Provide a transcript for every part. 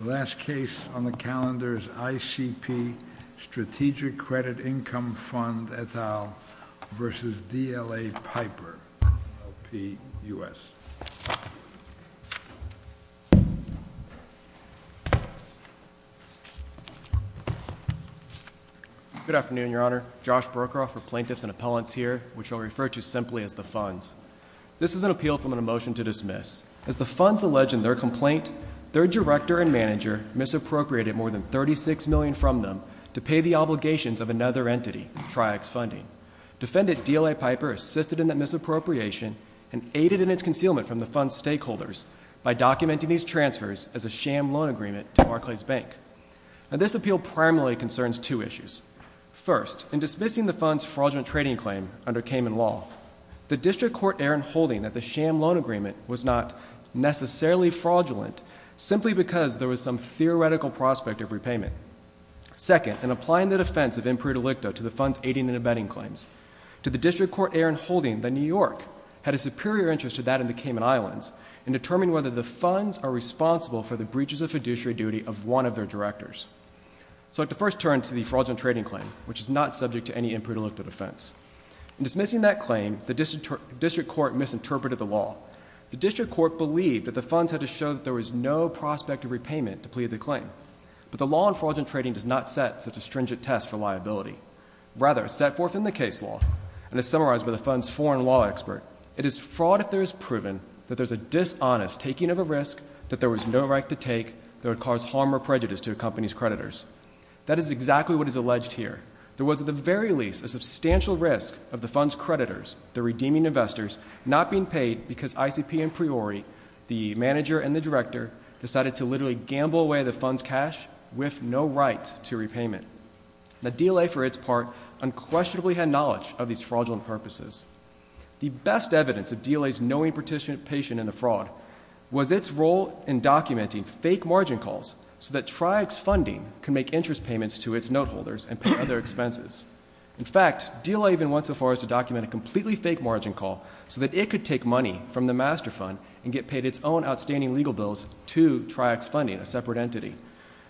The last case on the calendar is ICP Strategic Credit Income Fund et al. v. D.L.A. Piper, L.P., U.S. Good afternoon, Your Honor. Josh Brokaw for plaintiffs and appellants here, which I'll refer to simply as the funds. This is an appeal from a motion to dismiss. As the funds allege in their complaint, their director and manager misappropriated more than $36 million from them to pay the obligations of another entity, Tri-X Funding. Defendant D.L.A. Piper assisted in that misappropriation and aided in its concealment from the fund's stakeholders by documenting these transfers as a sham loan agreement to Barclays Bank. Now, this appeal primarily concerns two issues. First, in dismissing the fund's fraudulent trading claim under Cayman Law, the District Court errant holding that the sham loan agreement was not necessarily fraudulent simply because there was some theoretical prospect of repayment. Second, in applying the defense of imprudent electo to the fund's aiding and abetting claims, did the District Court errant holding that New York had a superior interest to that in the Cayman Islands in determining whether the funds are responsible for the breaches of fiduciary duty of one of their directors. So I'd like to first turn to the fraudulent trading claim, which is not subject to any imprudent electo defense. In dismissing that claim, the District Court misinterpreted the law. The District Court believed that the funds had to show that there was no prospect of repayment to plead the claim. But the law on fraudulent trading does not set such a stringent test for liability. Rather, set forth in the case law, and as summarized by the fund's foreign law expert, it is fraud if there is proven that there is a dishonest taking of a risk that there was no right to take that would cause harm or prejudice to a company's creditors. That is exactly what is alleged here. There was, at the very least, a substantial risk of the fund's creditors, the redeeming investors, not being paid because ICP and Priori, the manager and the director, decided to literally gamble away the fund's cash with no right to repayment. The DLA, for its part, unquestionably had knowledge of these fraudulent purposes. The best evidence of DLA's knowing participation in a fraud was its role in documenting fake margin calls so that TriEx Funding could make interest payments to its note holders and pay other expenses. In fact, DLA even went so far as to document a completely fake margin call so that it could take money from the master fund and get paid its own outstanding legal bills to TriEx Funding, a separate entity.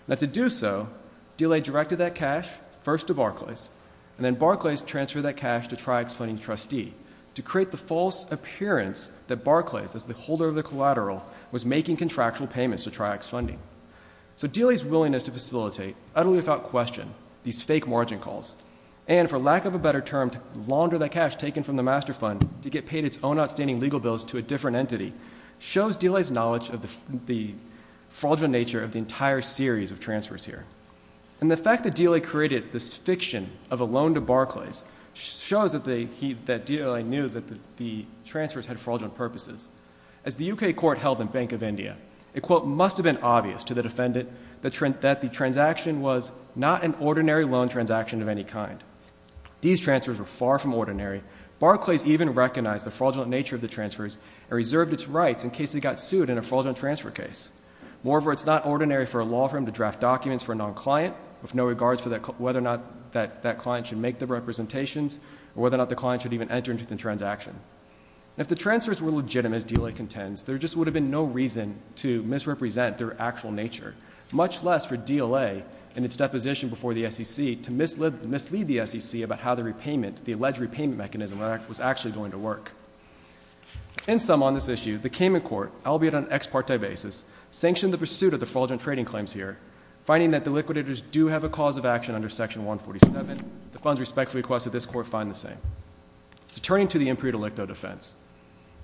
Now, to do so, DLA directed that cash first to Barclays, and then Barclays transferred that cash to TriEx Funding's trustee to create the false appearance that Barclays, as the holder of the collateral, was making contractual payments to TriEx Funding. So DLA's willingness to facilitate, utterly without question, these fake margin calls, and, for lack of a better term, to launder that cash taken from the master fund to get paid its own outstanding legal bills to a different entity, shows DLA's knowledge of the fraudulent nature of the entire series of transfers here. And the fact that DLA created this fiction of a loan to Barclays shows that DLA knew that the transfers had fraudulent purposes. As the U.K. court held in Bank of India, it, quote, must have been obvious to the defendant that the transaction was not an ordinary loan transaction of any kind. These transfers were far from ordinary. Barclays even recognized the fraudulent nature of the transfers and reserved its rights in case it got sued in a fraudulent transfer case. Moreover, it's not ordinary for a law firm to draft documents for a non-client with no regards for whether or not that client should make the representations or whether or not the client should even enter into the transaction. If the transfers were legitimate, as DLA contends, there just would have been no reason to misrepresent their actual nature, much less for DLA, in its deposition before the SEC, to mislead the SEC about how the repayment, the alleged repayment mechanism, was actually going to work. In sum, on this issue, the Cayman Court, albeit on an ex parte basis, sanctioned the pursuit of the fraudulent trading claims here, finding that the liquidators do have a cause of action under Section 147. The funds respect the request of this Court find the same. Turning to the imperial delicto defense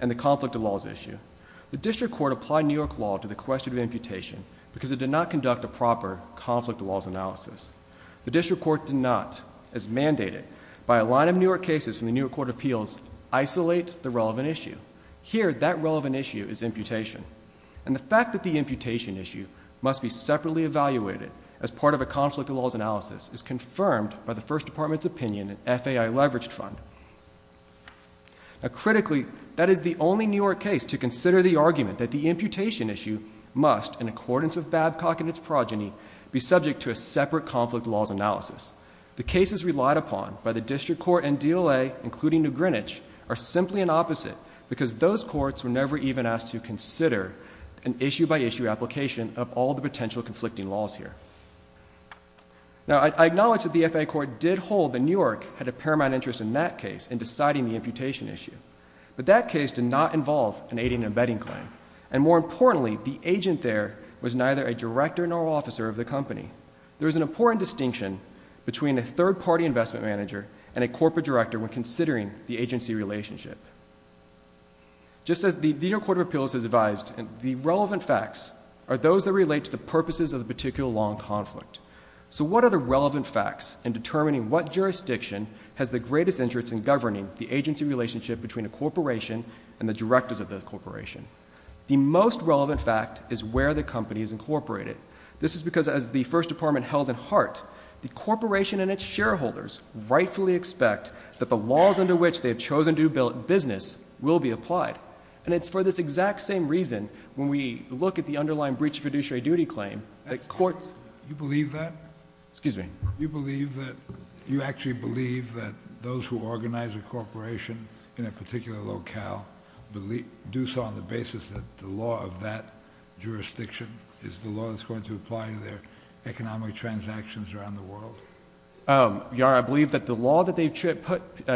and the conflict of laws issue, the District Court applied New York law to the question of imputation because it did not conduct a proper conflict of laws analysis. The District Court did not, as mandated by a line of New York cases from the New York Court of Appeals, isolate the relevant issue. Here, that relevant issue is imputation. And the fact that the imputation issue must be separately evaluated as part of a conflict of laws analysis is confirmed by the First Department's opinion in FAI Leveraged Fund. Critically, that is the only New York case to consider the argument that the imputation issue must, in accordance with Babcock and its progeny, be subject to a separate conflict of laws analysis. The cases relied upon by the District Court and DLA, including New Greenwich, are simply an opposite because those courts were never even asked to consider an issue-by-issue application of all the potential conflicting laws here. Now, I acknowledge that the FAI Court did hold that New York had a paramount interest in that case in deciding the imputation issue. But that case did not involve an aiding and abetting claim. And more importantly, the agent there was neither a director nor officer of the company. There is an important distinction between a third-party investment manager and a corporate director when considering the agency relationship. Just as the New York Court of Appeals has advised, the relevant facts are those that relate to the purposes of the particular law in conflict. So what are the relevant facts in determining what jurisdiction has the greatest interest in governing the agency relationship between a corporation and the directors of that corporation? The most relevant fact is where the company is incorporated. This is because, as the First Department held in heart, the corporation and its shareholders rightfully expect that the laws under which they have chosen to do business will be applied. And it's for this exact same reason, when we look at the underlying breach of fiduciary duty claim, that courts... You believe that? Excuse me? You believe that... You actually believe that those who organize a corporation in a particular locale do so on the basis that the law of that jurisdiction is the law that's going to apply to their economic transactions around the world? Your Honor, I believe that the law that they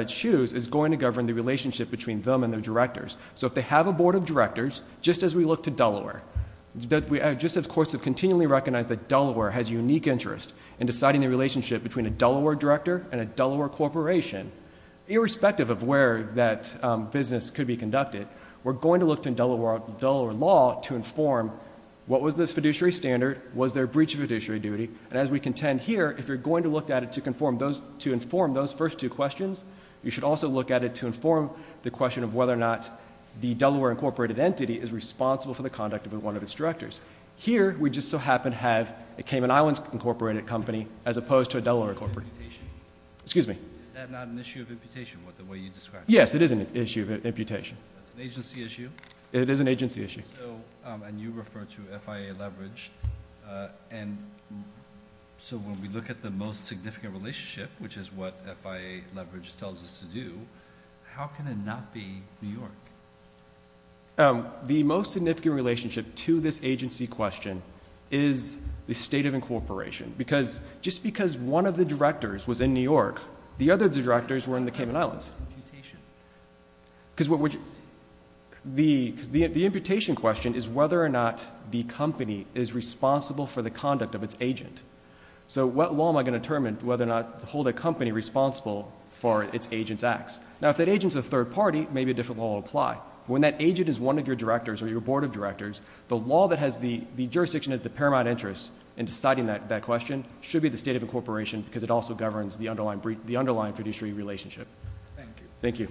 choose is going to govern the relationship between them and their directors. So if they have a board of directors, just as we look to Delaware, just as courts have continually recognized that Delaware has a unique interest in deciding the relationship between a Delaware director and a Delaware corporation, irrespective of where that business could be conducted, we're going to look to Delaware law to inform what was this fiduciary standard, was there a breach of fiduciary duty, and as we contend here, if you're going to look at it to inform those first two questions, you should also look at it to inform the question of whether or not the Delaware incorporated entity is responsible for the conduct of one of its directors. Here, we just so happen to have a Cayman Islands incorporated company as opposed to a Delaware incorporated... Is that not an issue of imputation, the way you described it? Yes, it is an issue of imputation. That's an agency issue? It is an agency issue. And you refer to FIA leverage, and so when we look at the most significant relationship, which is what FIA leverage tells us to do, how can it not be New York? The most significant relationship to this agency question is the state of incorporation, because just because one of the directors was in New York, the other directors were in the Cayman Islands. Imputation. Because the imputation question is whether or not the company is responsible for the conduct of its agent. So what law am I going to determine whether or not to hold a company responsible for its agent's acts? Now, if that agent is a third party, maybe a different law will apply. When that agent is one of your directors or your board of directors, the law that has the jurisdiction as the paramount interest in deciding that question should be the state of incorporation because it also governs the underlying fiduciary relationship. Thank you. Thank you.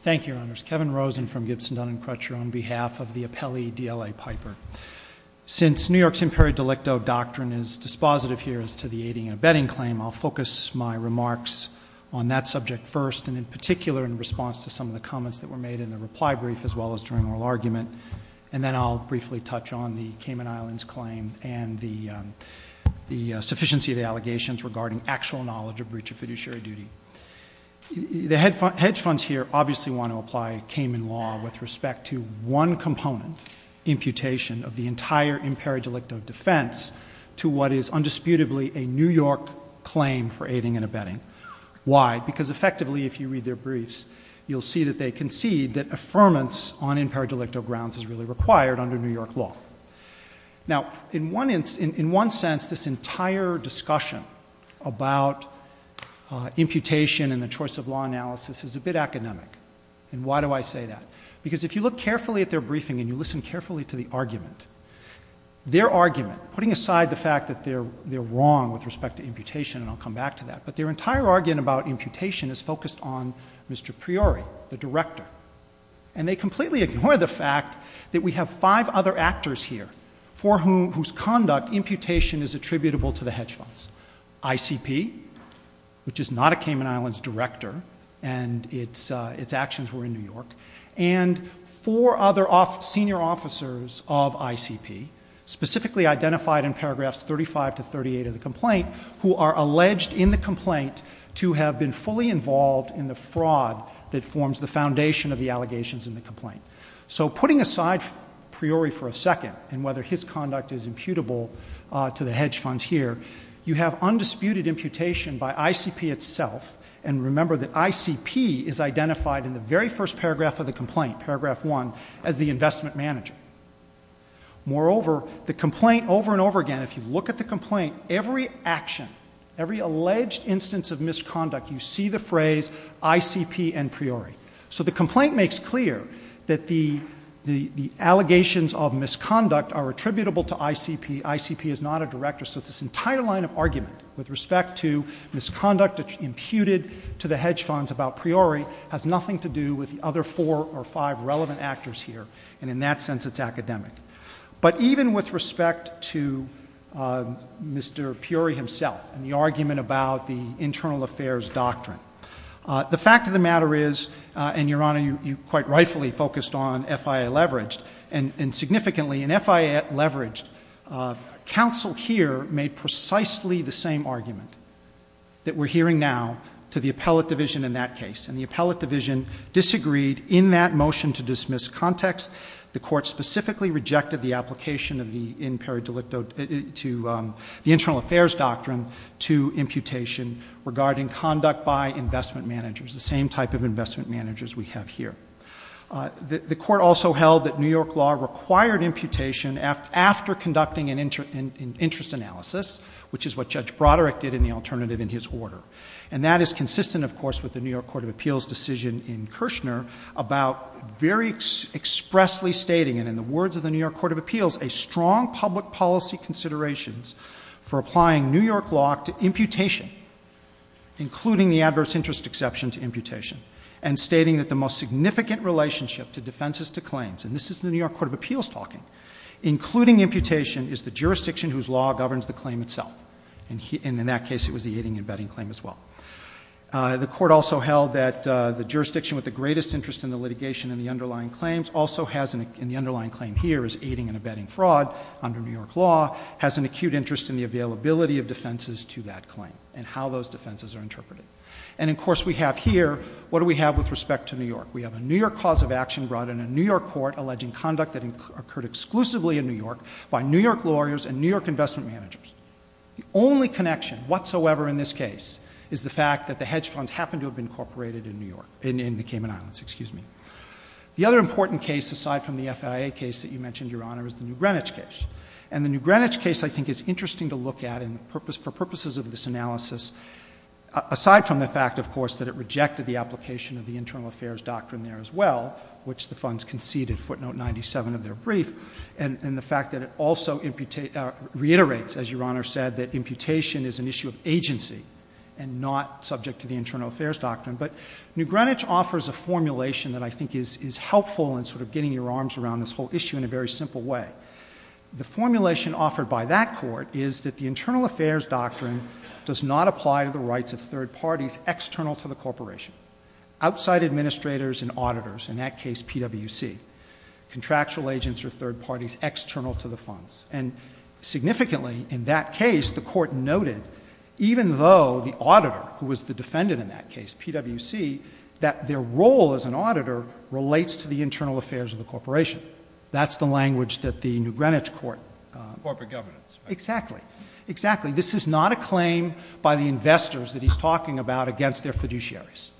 Thank you, Your Honors. Kevin Rosen from Gibson Dun & Crutcher on behalf of the appellee DLA Piper. Since New York's imperative delicto doctrine is dispositive here as to the aiding and abetting claim, I'll focus my remarks on that subject first, and in particular in response to some of the comments that were made in the reply brief as well as during oral argument. And then I'll briefly touch on the Cayman Islands claim and the sufficiency of the allegations regarding actual knowledge of breach of fiduciary duty. The hedge funds here obviously want to apply Cayman law with respect to one component, imputation of the entire imperative delicto defense, to what is undisputably a New York claim for aiding and abetting. Why? Because effectively, if you read their briefs, you'll see that they concede that affirmance on imperative delicto grounds is really required under New York law. Now, in one sense, this entire discussion about imputation and the choice of law analysis is a bit academic. And why do I say that? Because if you look carefully at their briefing and you listen carefully to the argument, their argument, putting aside the fact that they're wrong with respect to imputation, and I'll come back to that, but their entire argument about imputation is focused on Mr. Priori, the director. And they completely ignore the fact that we have five other actors here whose conduct imputation is attributable to the hedge funds. ICP, which is not a Cayman Islands director, and its actions were in New York, and four other senior officers of ICP, specifically identified in paragraphs 35 to 38 of the complaint, who are alleged in the complaint to have been fully involved in the fraud that forms the foundation of the allegations in the complaint. So putting aside Priori for a second and whether his conduct is imputable to the hedge funds here, you have undisputed imputation by ICP itself, and remember that ICP is identified in the very first paragraph of the complaint, paragraph one, as the investment manager. Moreover, the complaint over and over again, if you look at the complaint, every action, every alleged instance of misconduct, you see the phrase ICP and Priori. So the complaint makes clear that the allegations of misconduct are attributable to ICP. ICP is not a director. So this entire line of argument with respect to misconduct imputed to the hedge funds about Priori has nothing to do with the other four or five relevant actors here, and in that sense it's academic. But even with respect to Mr. Priori himself and the argument about the internal affairs doctrine, the fact of the matter is, and, Your Honor, you quite rightfully focused on FIA leveraged, and significantly in FIA leveraged, counsel here made precisely the same argument that we're hearing now to the appellate division in that case, and the appellate division disagreed in that motion to dismiss context. The court specifically rejected the application of the in peri delicto, to the internal affairs doctrine to imputation regarding conduct by investment managers, the same type of investment managers we have here. The court also held that New York law required imputation after conducting an interest analysis, which is what Judge Broderick did in the alternative in his order, and that is consistent, of course, with the New York Court of Appeals decision in Kirshner about very expressly stating, and in the words of the New York Court of Appeals, a strong public policy considerations for applying New York law to imputation, including the adverse interest exception to imputation, and stating that the most significant relationship to defenses to claims, and this is the New York Court of Appeals talking, including imputation is the jurisdiction whose law governs the claim itself, and in that case it was the aiding and abetting claim as well. The court also held that the jurisdiction with the greatest interest in the litigation and the underlying claims also has, in the underlying claim here, is aiding and abetting fraud under New York law, has an acute interest in the availability of defenses to that claim, and how those defenses are interpreted. And, of course, we have here, what do we have with respect to New York? We have a New York cause of action brought in a New York court alleging conduct that occurred exclusively in New York by New York lawyers and New York investment managers. The only connection whatsoever in this case is the fact that the hedge funds happened to have been incorporated in New York, in the Cayman Islands, excuse me. The other important case, aside from the FIA case that you mentioned, Your Honor, is the New Greenwich case. And the New Greenwich case, I think, is interesting to look at for purposes of this analysis, aside from the fact, of course, that it rejected the application of the internal affairs doctrine there as well, which the funds conceded, footnote 97 of their brief, and the fact that it also reiterates, as Your Honor said, that imputation is an issue of agency and not subject to the internal affairs doctrine. But New Greenwich offers a formulation that I think is helpful in sort of getting your arms around this whole issue in a very simple way. The formulation offered by that court is that the internal affairs doctrine does not apply to the rights of third parties external to the corporation. Outside administrators and auditors, in that case, PWC, contractual agents are third parties external to the funds. And significantly, in that case, the court noted, even though the auditor, who was the defendant in that case, PWC, that their role as an auditor relates to the internal affairs of the corporation. That's the language that the New Greenwich court... Corporate governance. Exactly. Exactly. This is not a claim by the investors that he's talking about against their fiduciaries.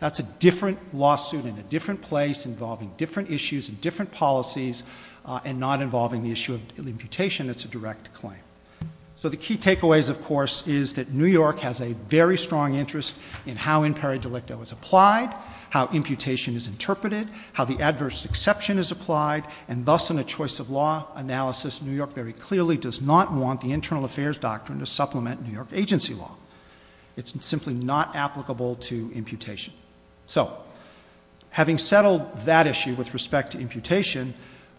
That's a different lawsuit in a different place involving different issues and different policies and not involving the issue of imputation. It's a direct claim. So the key takeaways, of course, is that New York has a very strong interest in how imperi delicto is applied, how imputation is interpreted, how the adverse exception is applied, and thus in a choice of law analysis, New York very clearly does not want the internal affairs doctrine to supplement New York agency law. It's simply not applicable to imputation. So, having settled that issue with respect to imputation,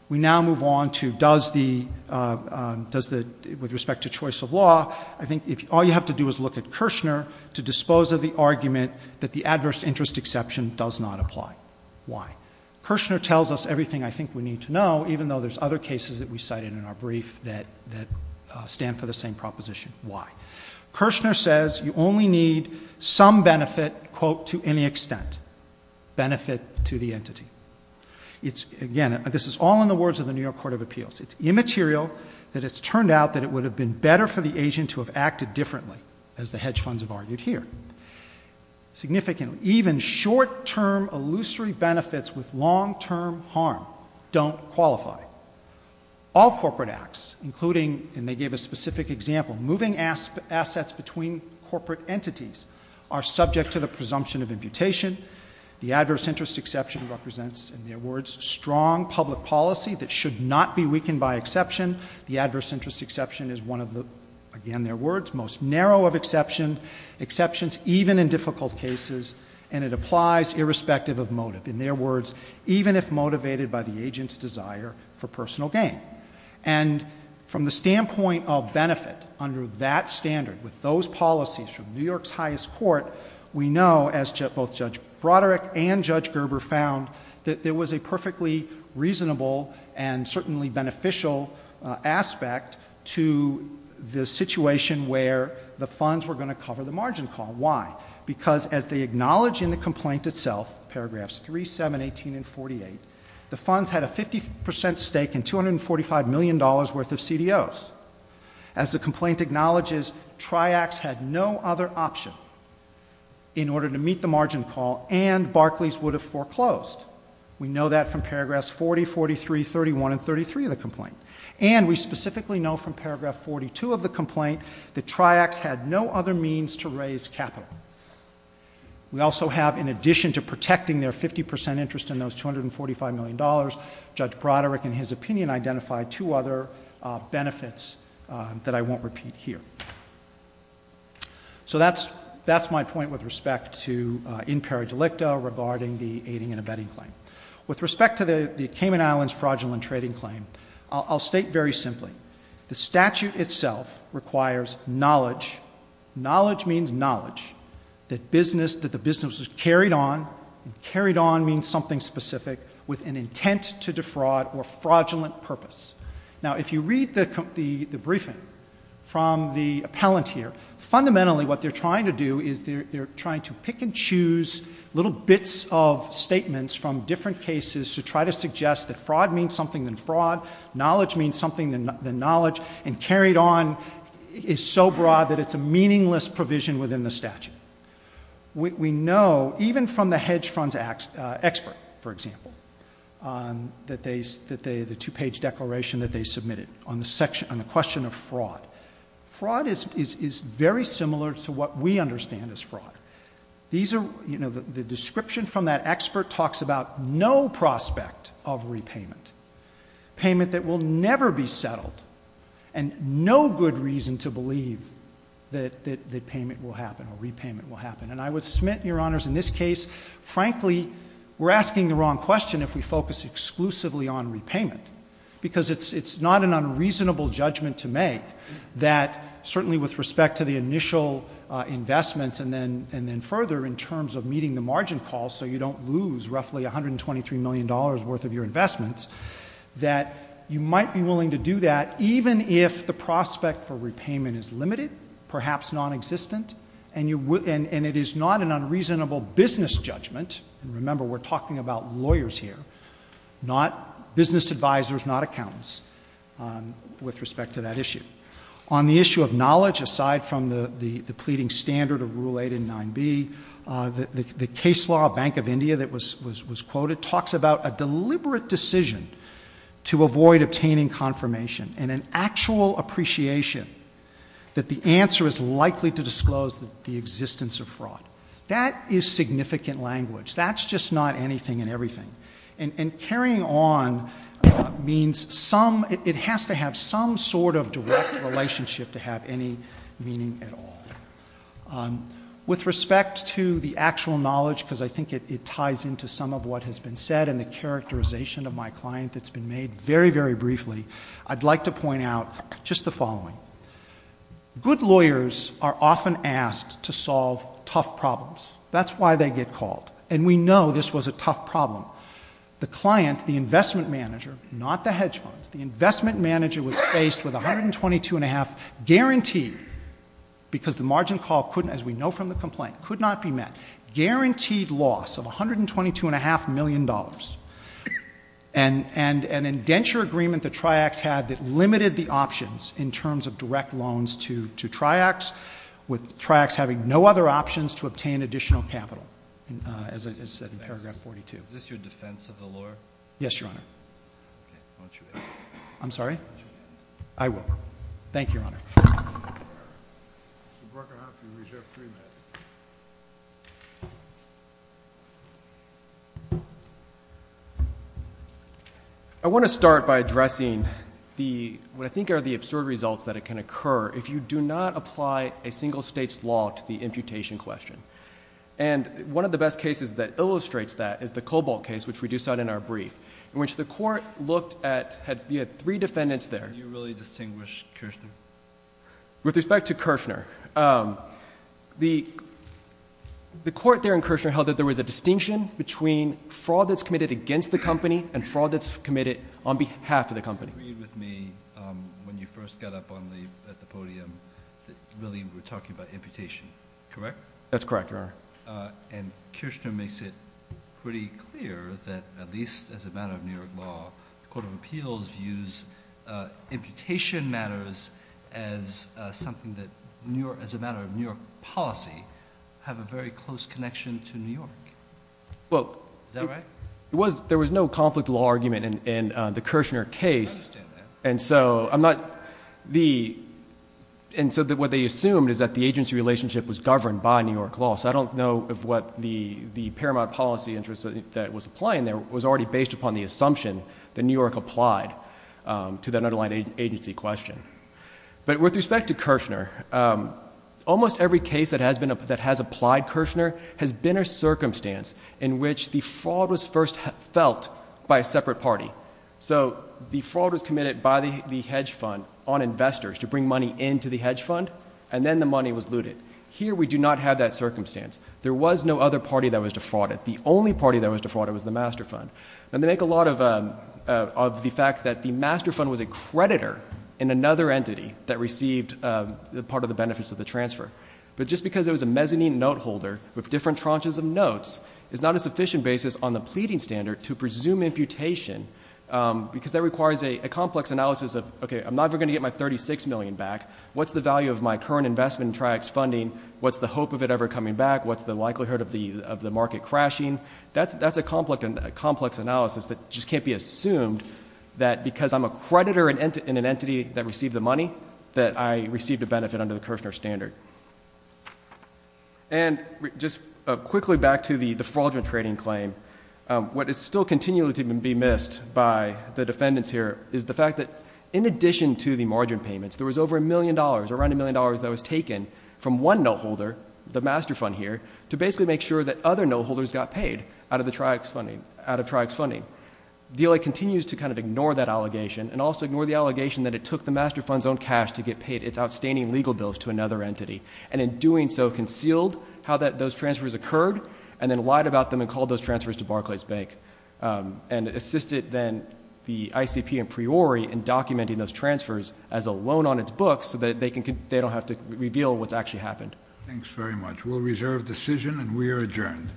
we now move on to does the... with respect to choice of law, I think all you have to do is look at Kirshner to dispose of the argument that the adverse interest exception does not apply. Why? Kirshner tells us everything I think we need to know, even though there's other cases that we cited in our brief that stand for the same proposition. Why? Kirshner says you only need some benefit, quote, to any extent. Benefit to the entity. Again, this is all in the words of the New York Court of Appeals. It's immaterial that it's turned out that it would have been better for the agent to have acted differently, as the hedge funds have argued here. Significant, even short-term, illusory benefits with long-term harm don't qualify. All corporate acts, including, and they gave a specific example, moving assets between corporate entities, are subject to the presumption of imputation. The adverse interest exception represents, in their words, strong public policy that should not be weakened by exception. The adverse interest exception is one of the, again their words, most narrow of exceptions, even in difficult cases, and it applies irrespective of motive. In their words, even if motivated by the agent's desire for personal gain. And from the standpoint of benefit under that standard, with those policies from New York's highest court, we know, as both Judge Broderick and Judge Gerber found, that there was a perfectly reasonable and certainly beneficial aspect to the situation where the funds were going to cover the margin call. Why? Because as they acknowledge in the complaint itself, paragraphs 3, 7, 18, and 48, the funds had a 50% stake in $245 million worth of CDOs. As the complaint acknowledges, Triax had no other option in order to meet the margin call, and Barclays would have foreclosed. We know that from paragraphs 40, 43, 31, and 33 of the complaint. And we specifically know from paragraph 42 of the complaint that Triax had no other means to raise capital. We also have, in addition to protecting their 50% interest in those $245 million, Judge Broderick, in his opinion, identified two other benefits that I won't repeat here. So that's my point with respect to impera delicta regarding the aiding and abetting claim. With respect to the Cayman Islands fraudulent trading claim, I'll state very simply, the statute itself requires knowledge, knowledge means knowledge, that the business was carried on, and carried on means something specific, with an intent to defraud or fraudulent purpose. Now, if you read the briefing from the appellant here, fundamentally what they're trying to do is they're trying to pick and choose little bits of statements from different cases to try to suggest that fraud means something than fraud, knowledge means something than knowledge, and carried on is so broad that it's a meaningless provision within the statute. We know, even from the hedge funds expert, for example, that the two-page declaration that they submitted on the question of fraud, fraud is very similar to what we understand as fraud. The description from that expert talks about no prospect of repayment, payment that will never be settled, and no good reason to believe that repayment will happen. And I would submit, Your Honors, in this case, frankly, we're asking the wrong question if we focus exclusively on repayment, because it's not an unreasonable judgment to make that certainly with respect to the initial investments, and then further, in terms of meeting the margin call so you don't lose roughly $123 million worth of your investments, that you might be willing to do that even if the prospect for repayment is limited, perhaps non-existent, and it is not an unreasonable business judgment, and remember, we're talking about lawyers here, not business advisors, not accountants, with respect to that issue. On the issue of knowledge, aside from the pleading standard of Rule 8 and 9B, the case law, Bank of India, that was quoted, talks about a deliberate decision to avoid obtaining confirmation, and an actual appreciation that the answer is likely to disclose the existence of fraud. That is significant language. That's just not anything and everything. And carrying on means some, it has to have some sort of direct relationship to have any meaning at all. With respect to the actual knowledge, because I think it ties into some of what has been said and the characterization of my client that's been made very, very briefly, I'd like to point out just the following. Good lawyers are often asked to solve tough problems. That's why they get called. And we know this was a tough problem. The client, the investment manager, not the hedge funds, the investment manager was faced with a $122.5 guaranteed, because the margin call couldn't, as we know from the complaint, could not be met, guaranteed loss of $122.5 million, and an indenture agreement that Triax had that limited the options in terms of direct loans to Triax, with Triax having no other options to obtain additional capital, as I said in paragraph 42. Is this your defense of the lawyer? Yes, Your Honor. Okay. I want you to end. I'm sorry? I will. Thank you, Your Honor. Mr. Brucker, I'll have you reserve three minutes. I want to start by addressing what I think are the absurd results that can occur if you do not apply a single state's law to the imputation question. And one of the best cases that illustrates that is the Cobalt case, which we do cite in our brief, in which the court looked at, you had three defendants there. Do you really distinguish Kirchner? With respect to Kirchner, the court there in Kirchner held that there was a distinction between fraud that's committed against the company and fraud that's committed on behalf of the company. You agreed with me when you first got up at the podium that really we're talking about imputation, correct? That's correct, Your Honor. And Kirchner makes it pretty clear that, at least as a matter of New York law, the Court of Appeals views imputation matters as a matter of New York policy, have a very close connection to New York. Is that right? There was no conflict of law argument in the Kirchner case. I understand that. And so what they assumed is that the agency relationship was governed by New York law. So I don't know if what the paramount policy interest that was applying there was already based upon the assumption that New York applied to that underlying agency question. But with respect to Kirchner, almost every case that has applied Kirchner has been a circumstance in which the fraud was first felt by a separate party. So the fraud was committed by the hedge fund on investors to bring money into the hedge fund, and then the money was looted. Here we do not have that circumstance. There was no other party that was to fraud it. The only party that was to fraud it was the master fund. And they make a lot of the fact that the master fund was a creditor in another entity that received part of the benefits of the transfer. But just because it was a mezzanine note holder with different tranches of notes is not a sufficient basis on the pleading standard to presume imputation because that requires a complex analysis of, okay, I'm not ever going to get my $36 million back. What's the value of my current investment in Tri-X funding? What's the hope of it ever coming back? What's the likelihood of the market crashing? That's a complex analysis that just can't be assumed that because I'm a creditor in an entity that received the money that I received a benefit under the Kirchner standard. And just quickly back to the defraudulent trading claim, what is still continually to be missed by the defendants here is the fact that, in addition to the margin payments, there was over a million dollars, around a million dollars that was taken from one note holder, the master fund here, to basically make sure that other note holders got paid out of Tri-X funding. DLA continues to kind of ignore that allegation and also ignore the allegation that it took the master fund's own cash to get paid its outstanding legal bills to another entity, and in doing so concealed how those transfers occurred and then lied about them and called those transfers to Barclays Bank and assisted then the ICP and Priori in documenting those transfers as a loan on its books so that they don't have to reveal what's actually happened. Thanks very much. We'll reserve decision, and we are adjourned.